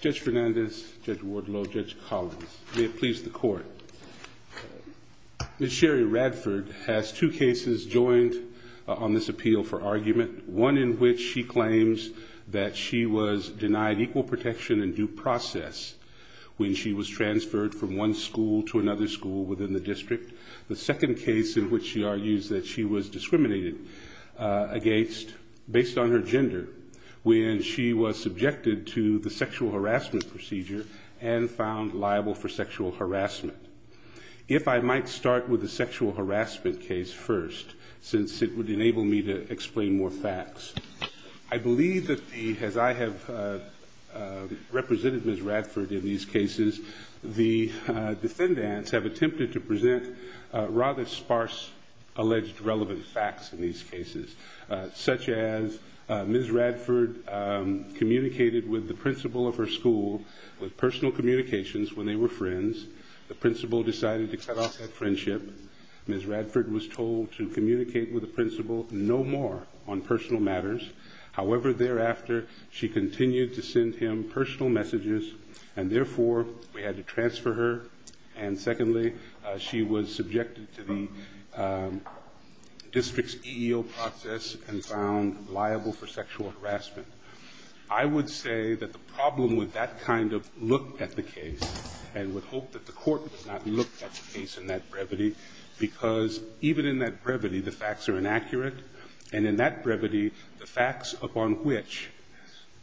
Judge Fernandez, Judge Wardlow, Judge Collins, may it please the court. Ms. Sherry Radford has two cases joined on this appeal for argument, one in which she claims that she was denied equal protection in due process when she was transferred from one school to another school within the district, the second case in which she argues that she was discriminated against based on her gender when she was subjected to the sexual harassment procedure and found liable for sexual harassment. If I might start with the sexual harassment case first, since it would enable me to explain more facts. I believe that the, as I have represented Ms. Radford in these cases, the defendants have attempted to present rather sparse alleged relevant facts in these cases, such as Ms. Radford communicated with the principal of her school with personal communications when they were friends. The principal decided to cut off that friendship. Ms. Radford was told to communicate with the principal no more on personal matters. However, thereafter, she continued to send him personal messages, and therefore, we had to transfer her. And secondly, she was subjected to the district's EEO process and found liable for sexual harassment. I would say that the problem with that kind of look at the case, and would hope that the court would not look at the case in that brevity, because even in that brevity, the facts are inaccurate. And in that brevity, the facts upon which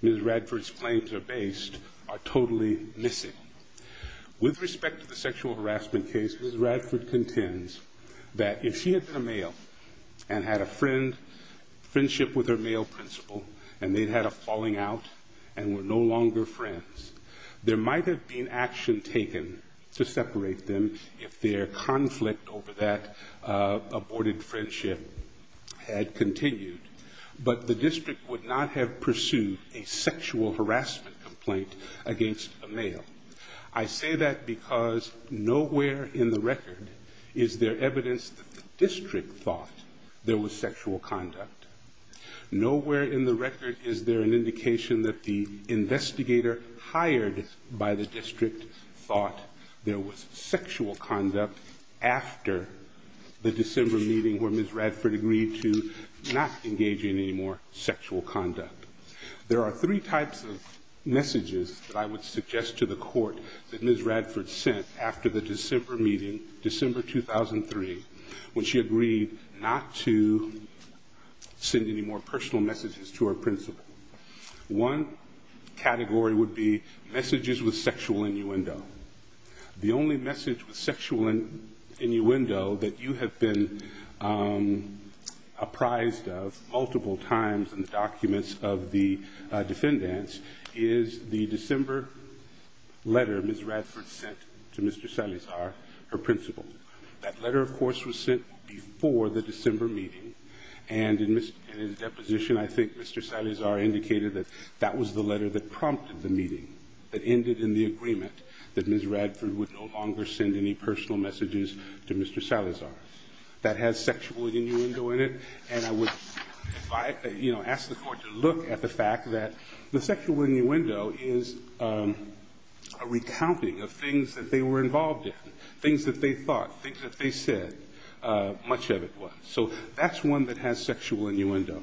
Ms. Radford's claims are based are totally missing. With respect to the sexual harassment case, Ms. Radford contends that if she had been a male and had a friendship with her male principal, and they'd had a falling out and were no longer friends, there might have been action taken to separate them if their conflict over that aborted friendship had continued, but the district would not have pursued a sexual harassment complaint against a male. I say that because nowhere in the record is there evidence that the district thought there was sexual conduct. Nowhere in the record is there an indication that the investigator hired by the district thought there was sexual conduct after the December meeting where Ms. Radford agreed to not engage in any more sexual conduct. There are three types of messages that I would suggest to the court that Ms. Radford sent after the December meeting, December 2003, when she agreed not to send any more personal messages to her principal. One category would be messages with sexual innuendo. The only message with sexual innuendo that you have been apprised of multiple times in the documents of the defendants is the December letter Ms. Radford sent to Mr. Salazar, her principal. That letter, of course, was sent before the December meeting and in his deposition, I think Mr. Salazar indicated that that was the letter that prompted the meeting, that ended in the agreement that Ms. Radford would no longer send any personal messages to Mr. Salazar. That has sexual innuendo in it and I would ask the court to look at the fact that the sexual innuendo is a recounting of things that they were involved in, things that they thought, things that they said, much of it was. So that's one that has sexual innuendo.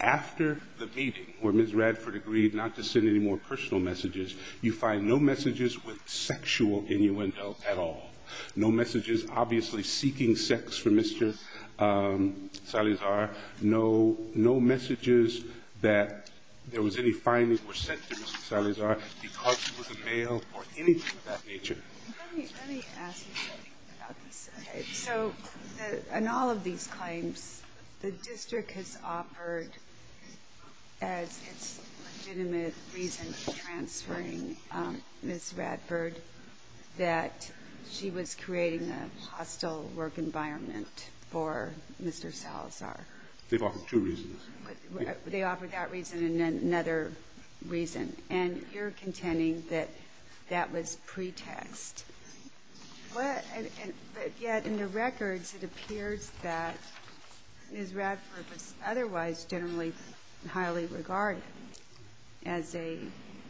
After the meeting where Ms. Radford agreed not to send any more personal messages, you find no messages with sexual innuendo at all. No messages, obviously, seeking sex from Mr. Salazar, no messages that there was any finding were sent to Mr. Salazar because he was a male or anything of that nature. Let me ask you something about this. So in all of these claims, the district has offered as its legitimate reason for transferring Ms. Radford that she was creating a hostile work environment for Mr. Salazar. They've offered two reasons. They offered that reason and then another reason and you're contending that that was pretext. But yet in the records, it appears that Ms. Radford was otherwise generally highly regarded as a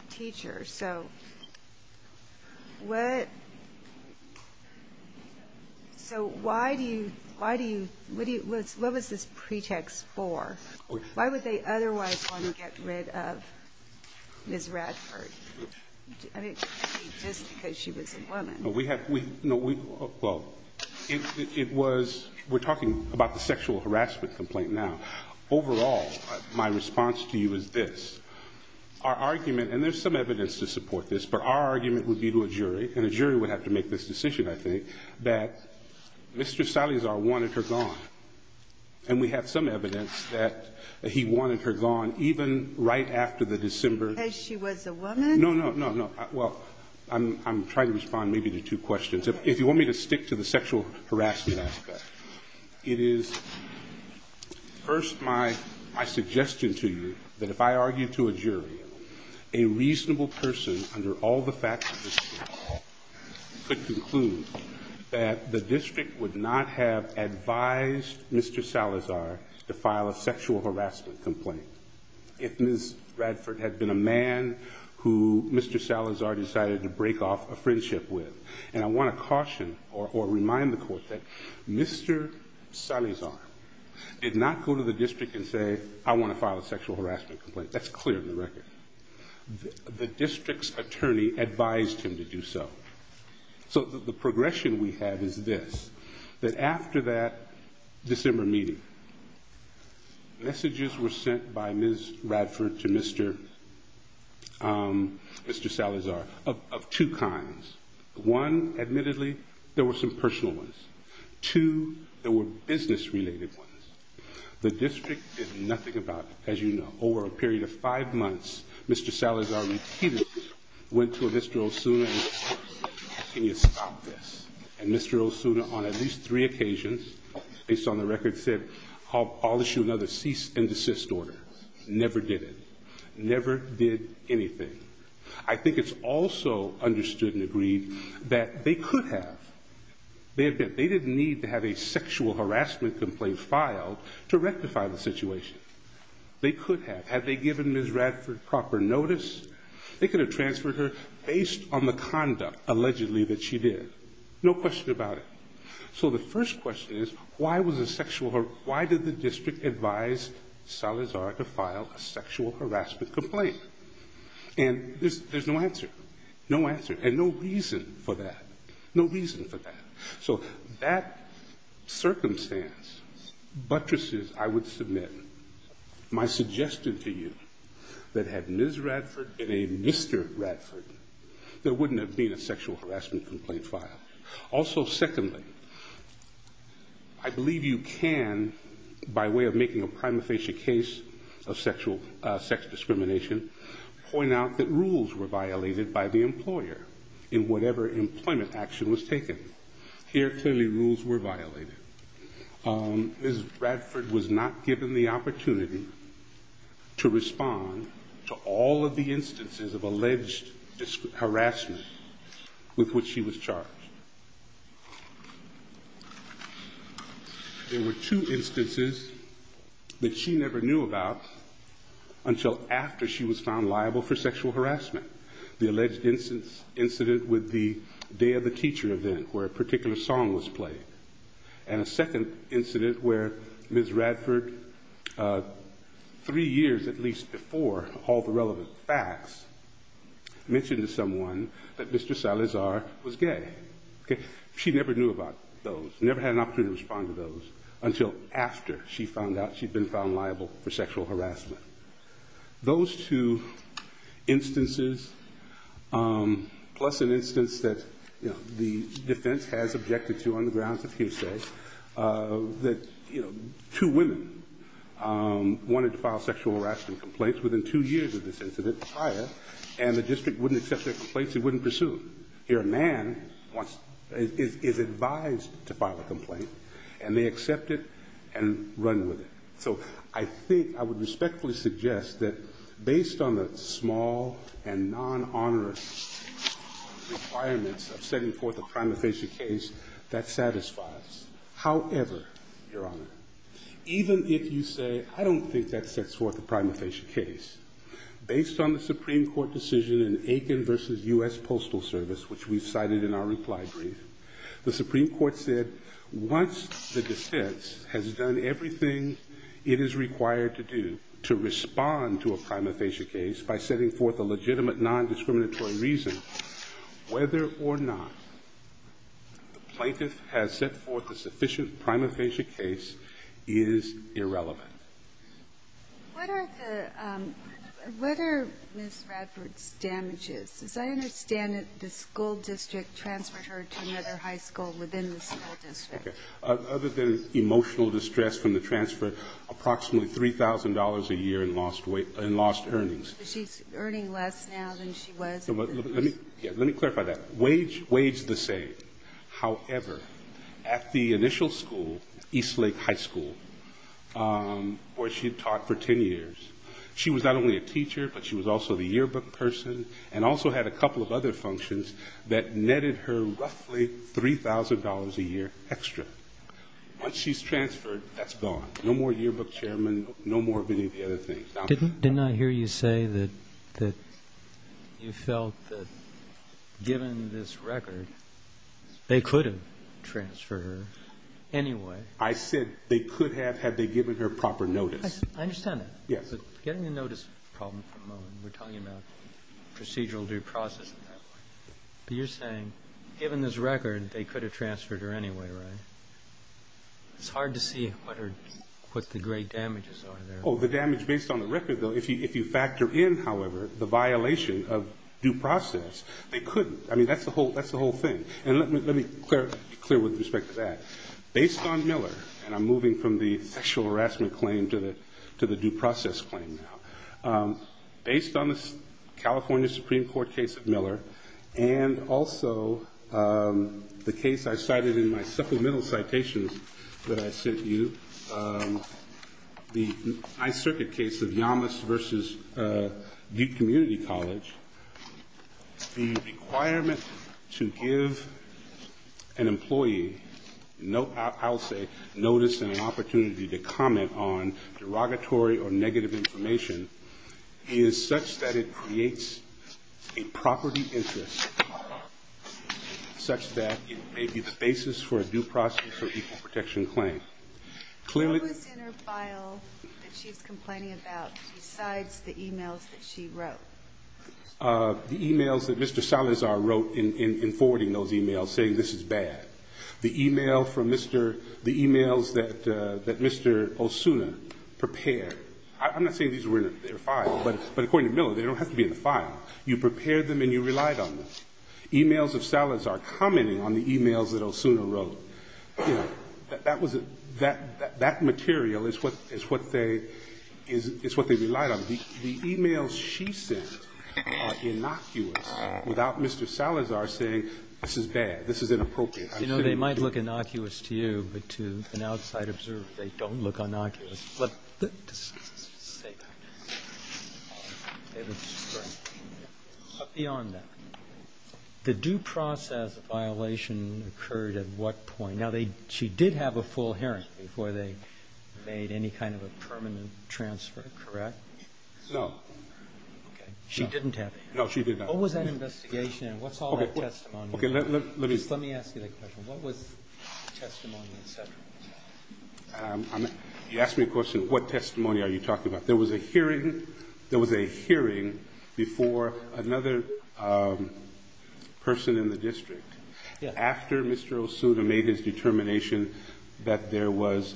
teacher. So what, so why do you think what was this pretext for? Why would they otherwise want to get rid of Ms. Radford? I mean, just because she was a woman. No, we have, well, it was, we're talking about the sexual harassment complaint now. Overall, my response to you is this. Our argument, and there's some evidence to support this, but our argument would be to a jury and a jury would have to make this decision, I think, that Mr. Salazar wanted her gone. And we have some evidence that he wanted her gone even right after the December. As she was a woman? No, no, no, no. Well, I'm trying to respond maybe to two questions. If you want me to stick to the sexual harassment aspect, it is first my suggestion to you that if I argued to a jury, a reasonable person under all the facts of this case could conclude that the district would not have advised Mr. Salazar to file a sexual harassment complaint if Ms. Radford had been a man who Mr. Salazar decided to break off a friendship with. And I want to caution or remind the court that Mr. Salazar did not go to the district and say, I want to file a sexual harassment complaint. That's clear in the record. The district's attorney advised him to do so. So the progression we have is this, that after that December meeting, messages were sent by Ms. Radford to Mr. Salazar of two kinds. One, admittedly, there were some personal ones. Two, there were business-related ones. The district did nothing about, as you know, over a period of five months, Mr. Salazar repeatedly went to Mr. Osuna and said, can you stop this? And Mr. Osuna, on at least three occasions, based on the record, said, I'll issue another cease and desist order. Never did it. Never did anything. I think it's also understood and agreed that they could have. They didn't need to have a sexual harassment complaint filed to rectify the situation. They could have. Had they given Ms. Radford proper notice, they could have transferred her based on the conduct, allegedly, that she did. No question about it. So the first question is, why was a sexual, why did the district advise Salazar to file a sexual harassment complaint? And there's no answer. No answer, and no reason for that. No reason for that. So that circumstance buttresses, I would submit, my suggestion to you, that had Ms. Radford been a Mr. Radford, there wouldn't have been a sexual harassment complaint filed. Also, secondly, I believe you can, by way of making a prima facie case of sexual, sex discrimination, point out that rules were violated by the employer in whatever employment action was taken. Here, clearly, rules were violated. Ms. Radford was not given the opportunity to respond to all of the instances of alleged harassment with which she was charged. There were two instances that she never knew about until after she was found liable for sexual harassment. The alleged incident with the Day of the Teacher event, where a particular song was played. And a second incident where Ms. Radford, three years, at least, before all the relevant facts, mentioned to someone that Mr. Salazar was gay. She never knew about those, never had an opportunity to respond to those until after she found out she'd been found liable for sexual harassment. Those two instances, plus an instance that the defense has objected to on the grounds of hearsay, that two women wanted to file sexual harassment complaints within two years of this incident prior, and the district wouldn't accept their complaints, it wouldn't pursue them. Here, a man is advised to file a complaint, and they accept it and run with it. So I think, I would respectfully suggest that based on the small and non-honorous requirements of setting forth a prima facie case, that satisfies. However, Your Honor, even if you say, I don't think that sets forth a prima facie case, based on the Supreme Court decision in Aiken versus U.S. Postal Service, which we've cited in our reply brief, the Supreme Court said, once the defense has done everything it is required to do to respond to a prima facie case by setting forth a legitimate non-discriminatory reason, whether or not the plaintiff has set forth a sufficient prima facie case, is irrelevant. What are the, what are Ms. Radford's damages? As I understand it, the school district transferred her to another high school within the school district. Other than emotional distress from the transfer, approximately $3,000 a year in lost earnings. She's earning less now than she was in this. Yeah, let me clarify that. Wage, wage the same. However, at the initial school, East Lake High School, where she taught for 10 years, she was not only a teacher, but she was also the yearbook person, and also had a couple of other functions that netted her roughly $3,000 a year extra. Once she's transferred, that's gone. No more yearbook chairman, no more of any of the other things. Didn't I hear you say that you felt that, given this record, they could have transferred her anyway? I said, they could have, had they given her proper notice. I understand that. Yes. But getting the notice problem for a moment, we're talking about procedural due process and that. But you're saying, given this record, they could have transferred her anyway, right? It's hard to see what the great damages are there. Oh, the damage based on the record, though. If you factor in, however, the violation of due process, they couldn't. I mean, that's the whole thing. And let me clear with respect to that. Based on Miller, and I'm moving from the sexual harassment claim to the due process claim now. Based on the California Supreme Court case of Miller, and also the case I cited in my supplemental citations that I sent you, the high circuit case of Yamas versus Duke Community College, the requirement to give an employee, no, I'll say, notice and an opportunity to comment on derogatory or negative information is such that it creates a property interest, such that it may be the basis for a due process or equal protection claim. Clearly. What was in her file that she's complaining about besides the emails that she wrote? The emails that Mr. Salazar wrote in forwarding those emails saying this is bad. The email from Mr., the emails that Mr. Osuna prepared. I'm not saying these were in their file, but according to Miller, they don't have to be in the file. You prepared them and you relied on them. Emails of Salazar commenting on the emails that Osuna wrote, that material is what they relied on. The emails she sent are innocuous without Mr. Salazar saying, this is bad, this is inappropriate. They might look innocuous to you, but to an outside observer, they don't look innocuous. But beyond that, the due process of violation occurred at what point? Now, she did have a full hearing before they made any kind of a permanent transfer, correct? No. She didn't have a hearing? No, she did not. What was that investigation and what's all that testimony? Okay, let me. Just let me ask you that question. What was testimony, et cetera? You asked me a question, what testimony are you talking about? There was a hearing, there was a hearing before another person in the district after Mr. Osuna made his determination that there was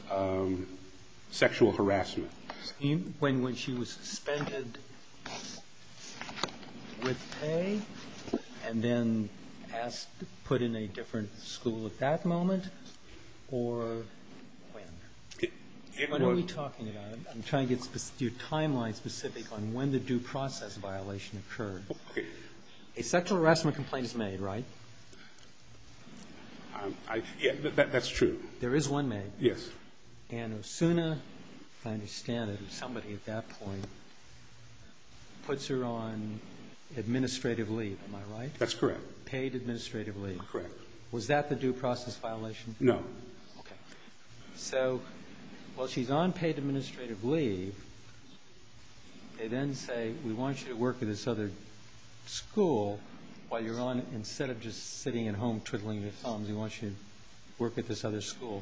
sexual harassment. When she was suspended with pay and then asked to put in a different school at that moment or when? What are we talking about? I'm trying to get your timeline specific on when the due process violation occurred. Okay. A sexual harassment complaint is made, right? Yeah, that's true. There is one made? Yes. And Osuna, if I understand it, somebody at that point puts her on administrative leave, am I right? That's correct. Paid administrative leave. Correct. Was that the due process violation? No. Okay. So while she's on paid administrative leave, they then say, we want you to work at this other school while you're on, instead of just sitting at home twiddling your thumbs, we want you to work at this other school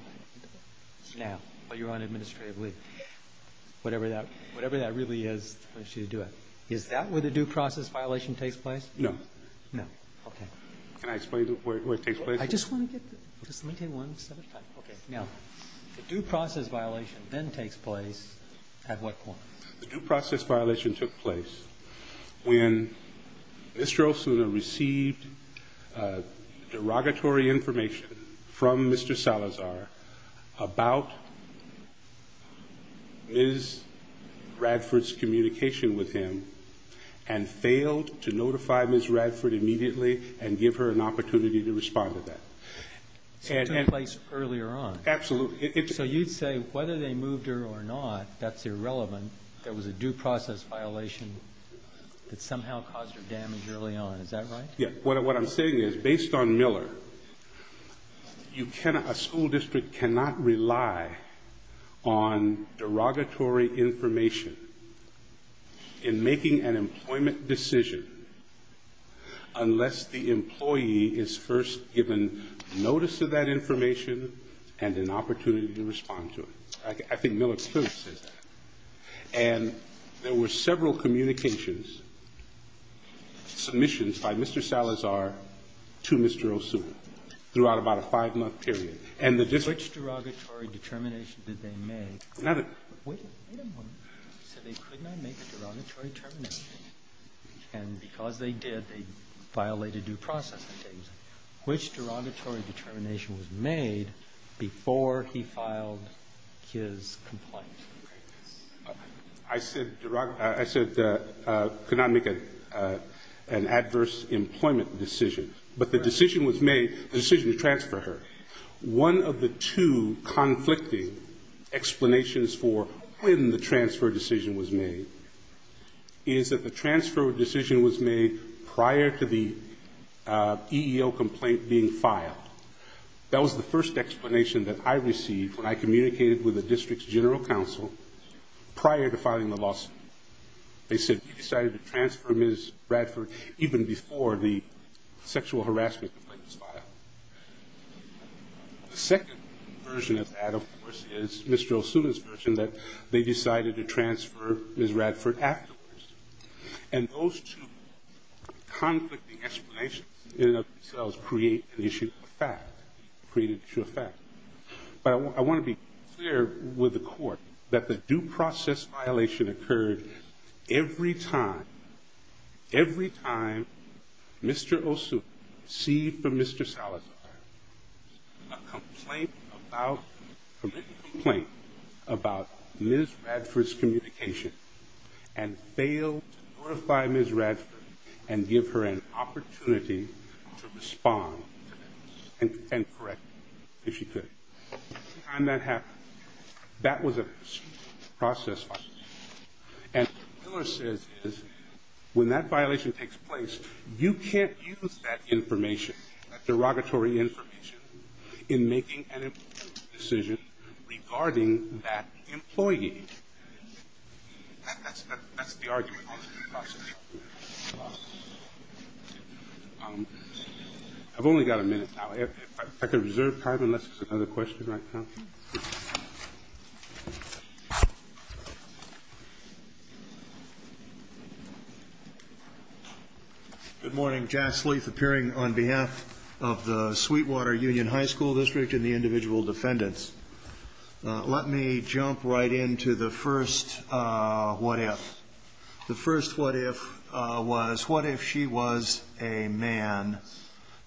now while you're on administrative leave. Whatever that really is, we want you to do it. Is that where the due process violation takes place? No. No, okay. Can I explain where it takes place? I just want to get, just let me take one step at a time. Okay, now, the due process violation then takes place at what point? The due process violation took place when Mr. Osuna received derogatory information from Mr. Salazar about Ms. Radford's communication with him and failed to notify Ms. Radford immediately and give her an opportunity to respond to that. So it took place earlier on? Absolutely. So you'd say, whether they moved her or not, that's irrelevant. There was a due process violation that somehow caused her damage early on. Is that right? Yeah, what I'm saying is, based on Miller, a school district cannot rely on derogatory information in making an employment decision unless the employee is first given notice of that information and an opportunity to respond to it. I think Miller clearly says that. And there were several communications, submissions by Mr. Salazar to Mr. Osuna throughout about a five-month period. And the district- Which derogatory determination did they make? Nothing. Wait a moment. So they could not make a derogatory determination. And because they did, they violated due process. Which derogatory determination was made before he filed his complaint? I said, could not make an adverse employment decision. But the decision was made, the decision to transfer her. One of the two conflicting explanations for when the transfer decision was made is that the transfer decision was made prior to the EEO complaint being filed. That was the first explanation that I received when I communicated with the district's general counsel prior to filing the lawsuit. They said, we decided to transfer Ms. Radford even before the sexual harassment complaint was filed. The second version of that, of course, is Mr. Osuna's version that they decided to transfer Ms. Radford afterwards. And those two conflicting explanations in and of themselves create an issue of fact, create an issue of fact. But I want to be clear with the court that the due process violation occurred every time, every time Mr. Osuna received from Mr. Salazar a complaint about, a written complaint about Ms. Radford's communication and failed to notify Ms. Radford and give her an opportunity to respond and correct if she could. Every time that happened, that was a due process violation. And what Miller says is, when that violation takes place, you can't use that information, that derogatory information in making an employment decision regarding that employee. That's the argument on the due process. I've only got a minute now. If I could reserve time unless there's another question right now. Good morning, Jas Leith appearing on behalf of the Sweetwater Union High School District and the individual defendants. Let me jump right into the first what if. The first what if was, what if she was a man?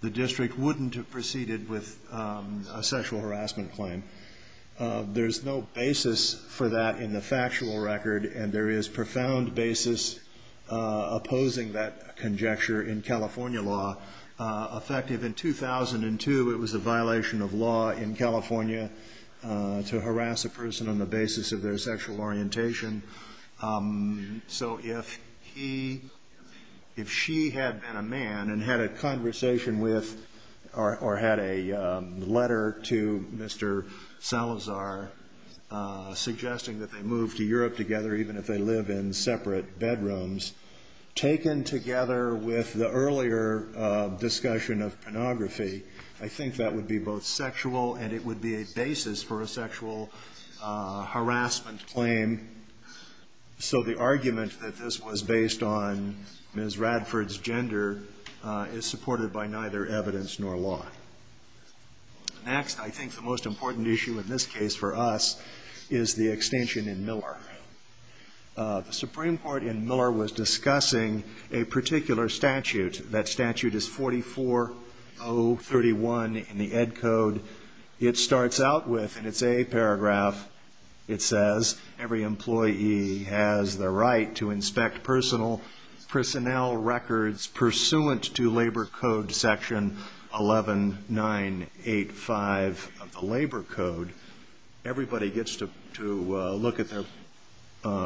The district wouldn't have proceeded with a sexual harassment claim. There's no basis for that in the factual record and there is profound basis opposing that conjecture in California law. Effective in 2002, it was a violation of law in California to harass a person on the basis of their sexual orientation. So if she had been a man and had a conversation with or had a letter to Mr. Salazar suggesting that they move to Europe together even if they live in separate bedrooms, taken together with the earlier discussion of pornography, I think that would be both sexual and it would be a basis for a sexual harassment claim. So the argument that this was based on Ms. Radford's gender is supported by neither evidence nor law. Next, I think the most important issue in this case for us is the extension in Miller. The Supreme Court in Miller was discussing a particular statute. That statute is 44031 in the Ed Code. It starts out with, and it's a paragraph, it says every employee has the right to inspect personnel records pursuant to Labor Code section 11985 of the Labor Code. Everybody gets to look at their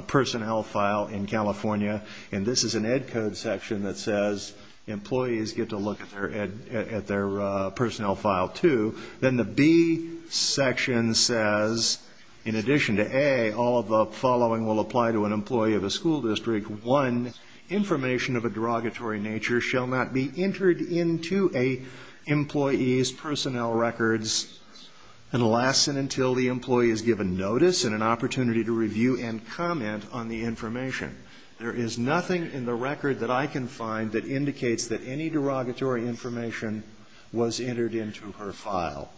personnel file in California and this is an Ed Code section that says employees get to look at their personnel file too. Then the B section says, in addition to A, all of the following will apply to an employee of a school district. One, information of a derogatory nature shall not be entered into a employee's personnel records unless and until the employee is given notice and an opportunity to review and comment on the information. There is nothing in the record that I can find that indicates that any derogatory information was entered into her file.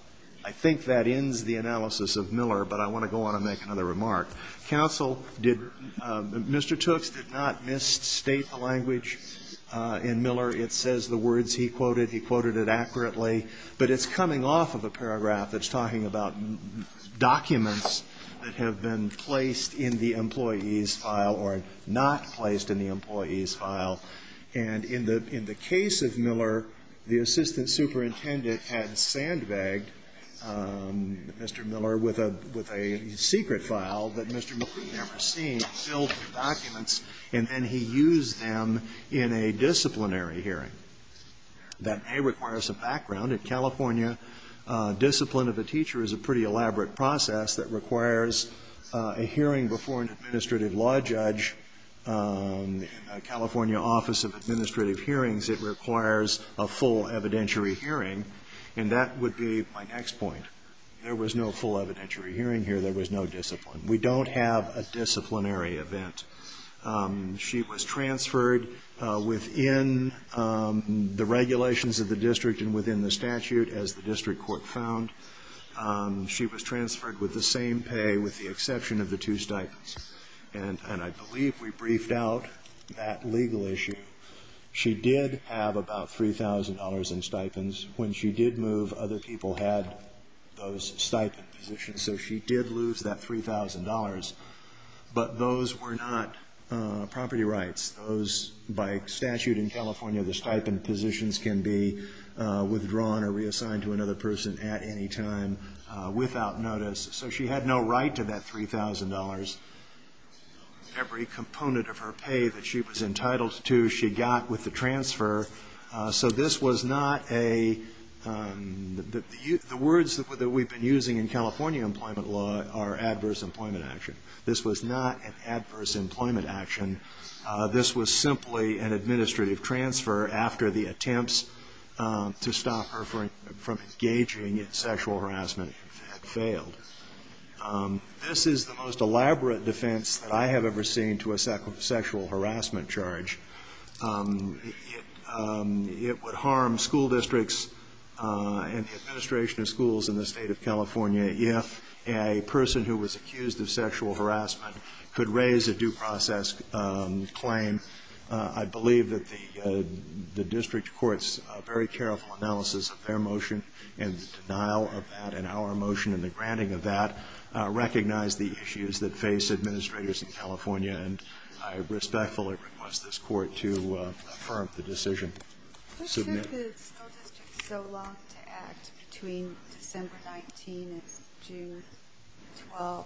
I think that ends the analysis of Miller, but I want to go on and make another remark. Counsel, Mr. Tooks did not misstate the language in Miller. It says the words he quoted, he quoted it accurately, but it's coming off of a paragraph that's talking about documents that have been placed in the employee's file or not placed in the employee's file. And in the case of Miller, the assistant superintendent had sandbagged Mr. Miller with a secret file that Mr. Miller had never seen filled with documents and then he used them in a disciplinary hearing. That, A, requires some background. At California, discipline of a teacher is a pretty elaborate process that requires a hearing before an administrative law judge. California Office of Administrative Hearings, it requires a full evidentiary hearing. And that would be my next point. There was no full evidentiary hearing here. There was no discipline. We don't have a disciplinary event. She was transferred within the regulations of the district and within the statute as the district court found. She was transferred with the same pay with the exception of the two stipends. And I believe we briefed out that legal issue. She did have about $3,000 in stipends. When she did move, other people had those stipend positions. So she did lose that $3,000. But those were not property rights. Those, by statute in California, the stipend positions can be withdrawn or reassigned to another person at any time without notice. So she had no right to that $3,000. Every component of her pay that she was entitled to, she got with the transfer. So this was not a, the words that we've been using in California employment law are adverse employment action. This was not an adverse employment action. This was simply an administrative transfer after the attempts to stop her from engaging in sexual harassment failed. This is the most elaborate defense that I have ever seen to a sexual harassment charge. It would harm school districts and the administration of schools in the state of California if a person who was accused of sexual harassment could raise a due process claim. I believe that the district court's very careful analysis of their motion and the denial of that in our motion and the granting of that recognize the issues that face administrators in California. And I respectfully request this court to affirm the decision. Submit. Why did the school district take so long to act between December 19 and June 12th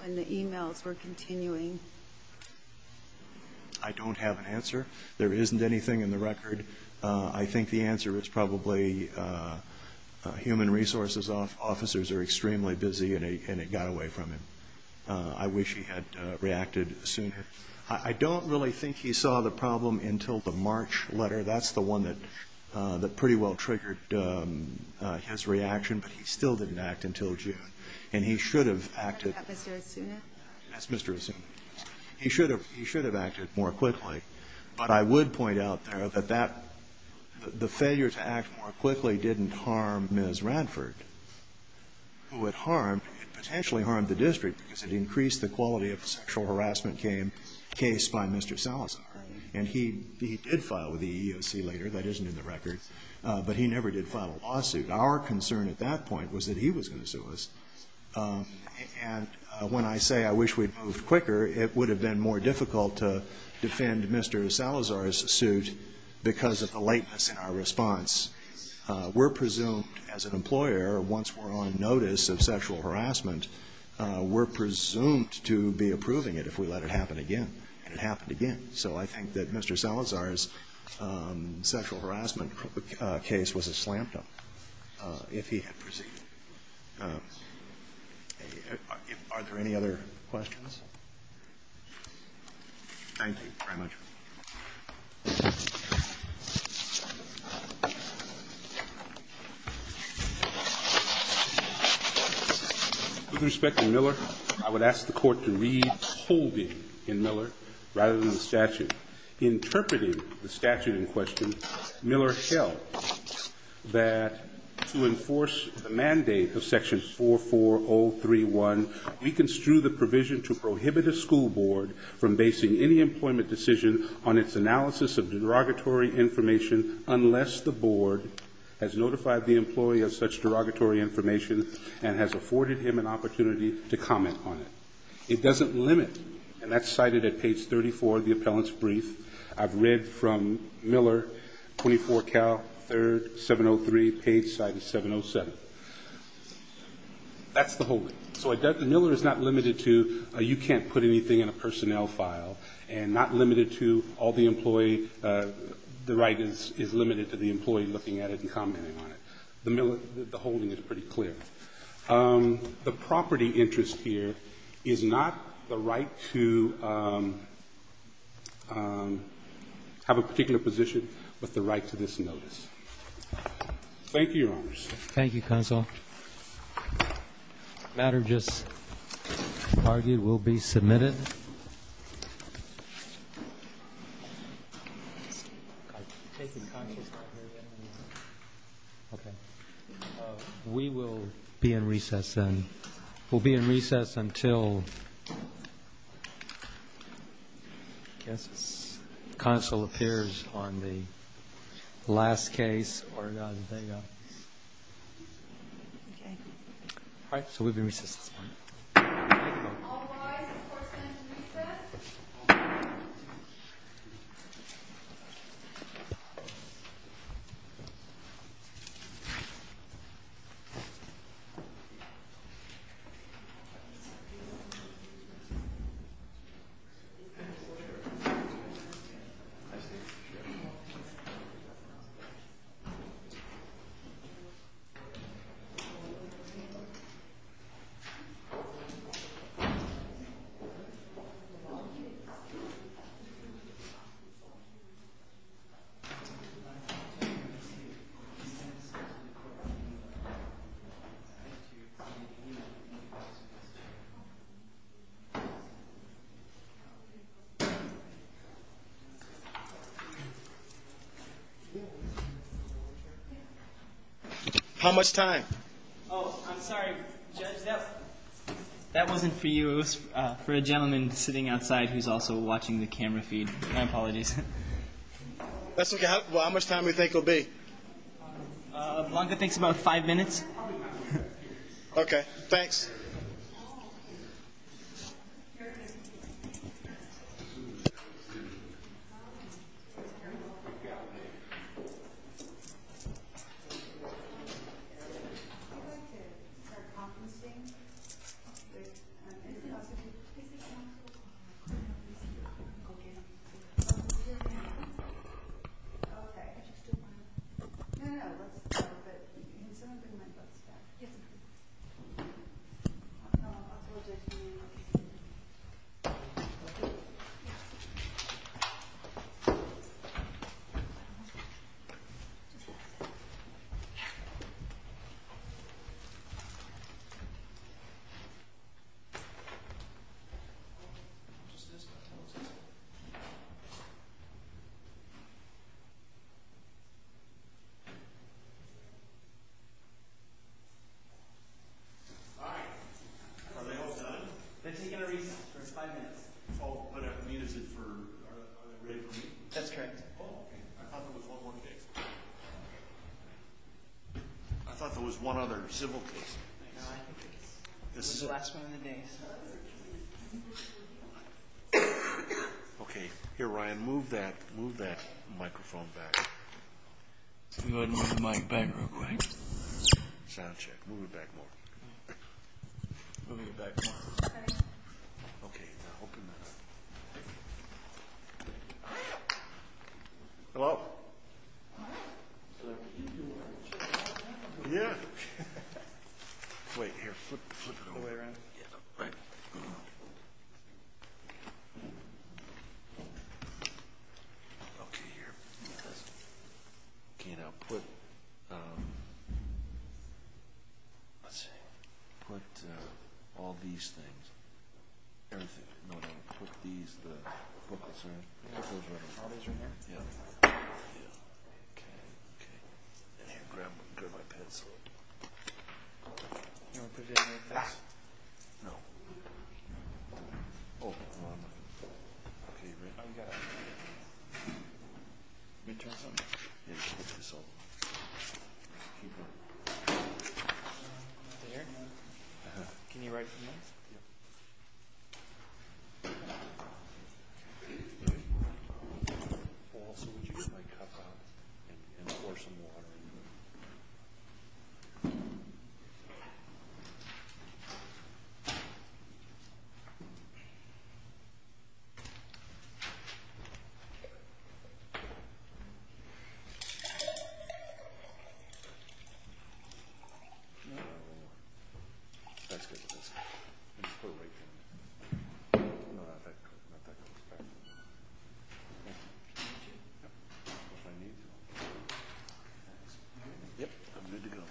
when the emails were continuing? I don't have an answer. There isn't anything in the record. I think the answer is probably human resources officers are extremely busy and it got away from him. I wish he had reacted sooner. I don't really think he saw the problem until the March letter. That's the one that pretty well triggered his reaction, but he still didn't act until June. And he should have acted. Is that Mr. Asuna? That's Mr. Asuna. He should have acted more quickly, but I would point out there that the failure to act more quickly didn't harm Ms. Radford, who it harmed, it potentially harmed the district because it increased the quality of the sexual harassment case by Mr. Salazar. And he did file with the EEOC later, that isn't in the record, but he never did file a lawsuit. Our concern at that point was that he was gonna sue us. And when I say I wish we'd moved quicker, it would have been more difficult to defend Mr. Salazar's suit because of the lateness in our response. We're presumed, as an employer, once we're on notice of sexual harassment, we're presumed to be approving it if we let it happen again. And it happened again. So I think that Mr. Salazar's sexual harassment case was a slant, if he had proceeded. Are there any other questions? Thank you very much. With respect to Miller, rather than the statute, interpreting the statute in question, Miller held that to enforce the mandate of section 44031, we construe the provision to prohibit a school board from basing any employment decision on its analysis of derogatory information unless the board has notified the employee of such derogatory information and has afforded him an opportunity to comment on it. It doesn't limit, and that's cited at page 34 of the appellant's brief. I've read from Miller, 24 Cal 3rd, 703, page cited 707. That's the holding. So Miller is not limited to, you can't put anything in a personnel file, and not limited to all the employee, the right is limited to the employee looking at it and commenting on it. The holding is pretty clear. The property interest here is not the right to have a particular position, but the right to this notice. Thank you, Your Honors. Thank you, Counsel. Matter just argued will be submitted. We will be in recess then. We'll be in recess until, I guess, counsel appears on the last case. All right, so we'll be in recess this morning. Otherwise, of course, we'll be in recess. Thank you. How much time? Oh, I'm sorry, Judge, that wasn't for you. It was for a gentleman sitting outside who's also watching the camera feed. My apologies. That's okay. Well, how much time do you think it'll be? Blanca thinks about five minutes. Okay, thanks. I'd like to start conferencing. Okay. No, no, no, let's go, but can someone bring my books back? Okay. All right, are they all done? They've taken a recess for five minutes. Oh, but I mean, is it for, are they ready for me? That's correct. Oh, okay. I thought there was one more case. I thought there was one other civil case. No, I think it's the last one of the day. Okay, here, Ryan, move that microphone back. Let me go ahead and move the mic back real quick. Sound check, move it back more. Move it back more. Okay, now open that up. Hello? Sir, can you do one of those? Yeah. Wait, here, flip it over. Yeah, right. Okay, here. Okay, now put, let's see, put all these things, everything, no, no, put these, the booklets, right? All these right here? Yeah. Yeah. Okay, okay. And here, grab my pencil. You want me to put it in like this? No. Oh, hold on. Okay, you ready? Oh, you got it. You want me to turn this on? Yeah, turn this off. There? Uh-huh. Can you write from there? Yeah. Okay. Also, would you get my cup out and pour some water in there? No, that's good, that's good. Just put it right there. No, not that close, not that close. Yep, I'm good to go. All right. All right.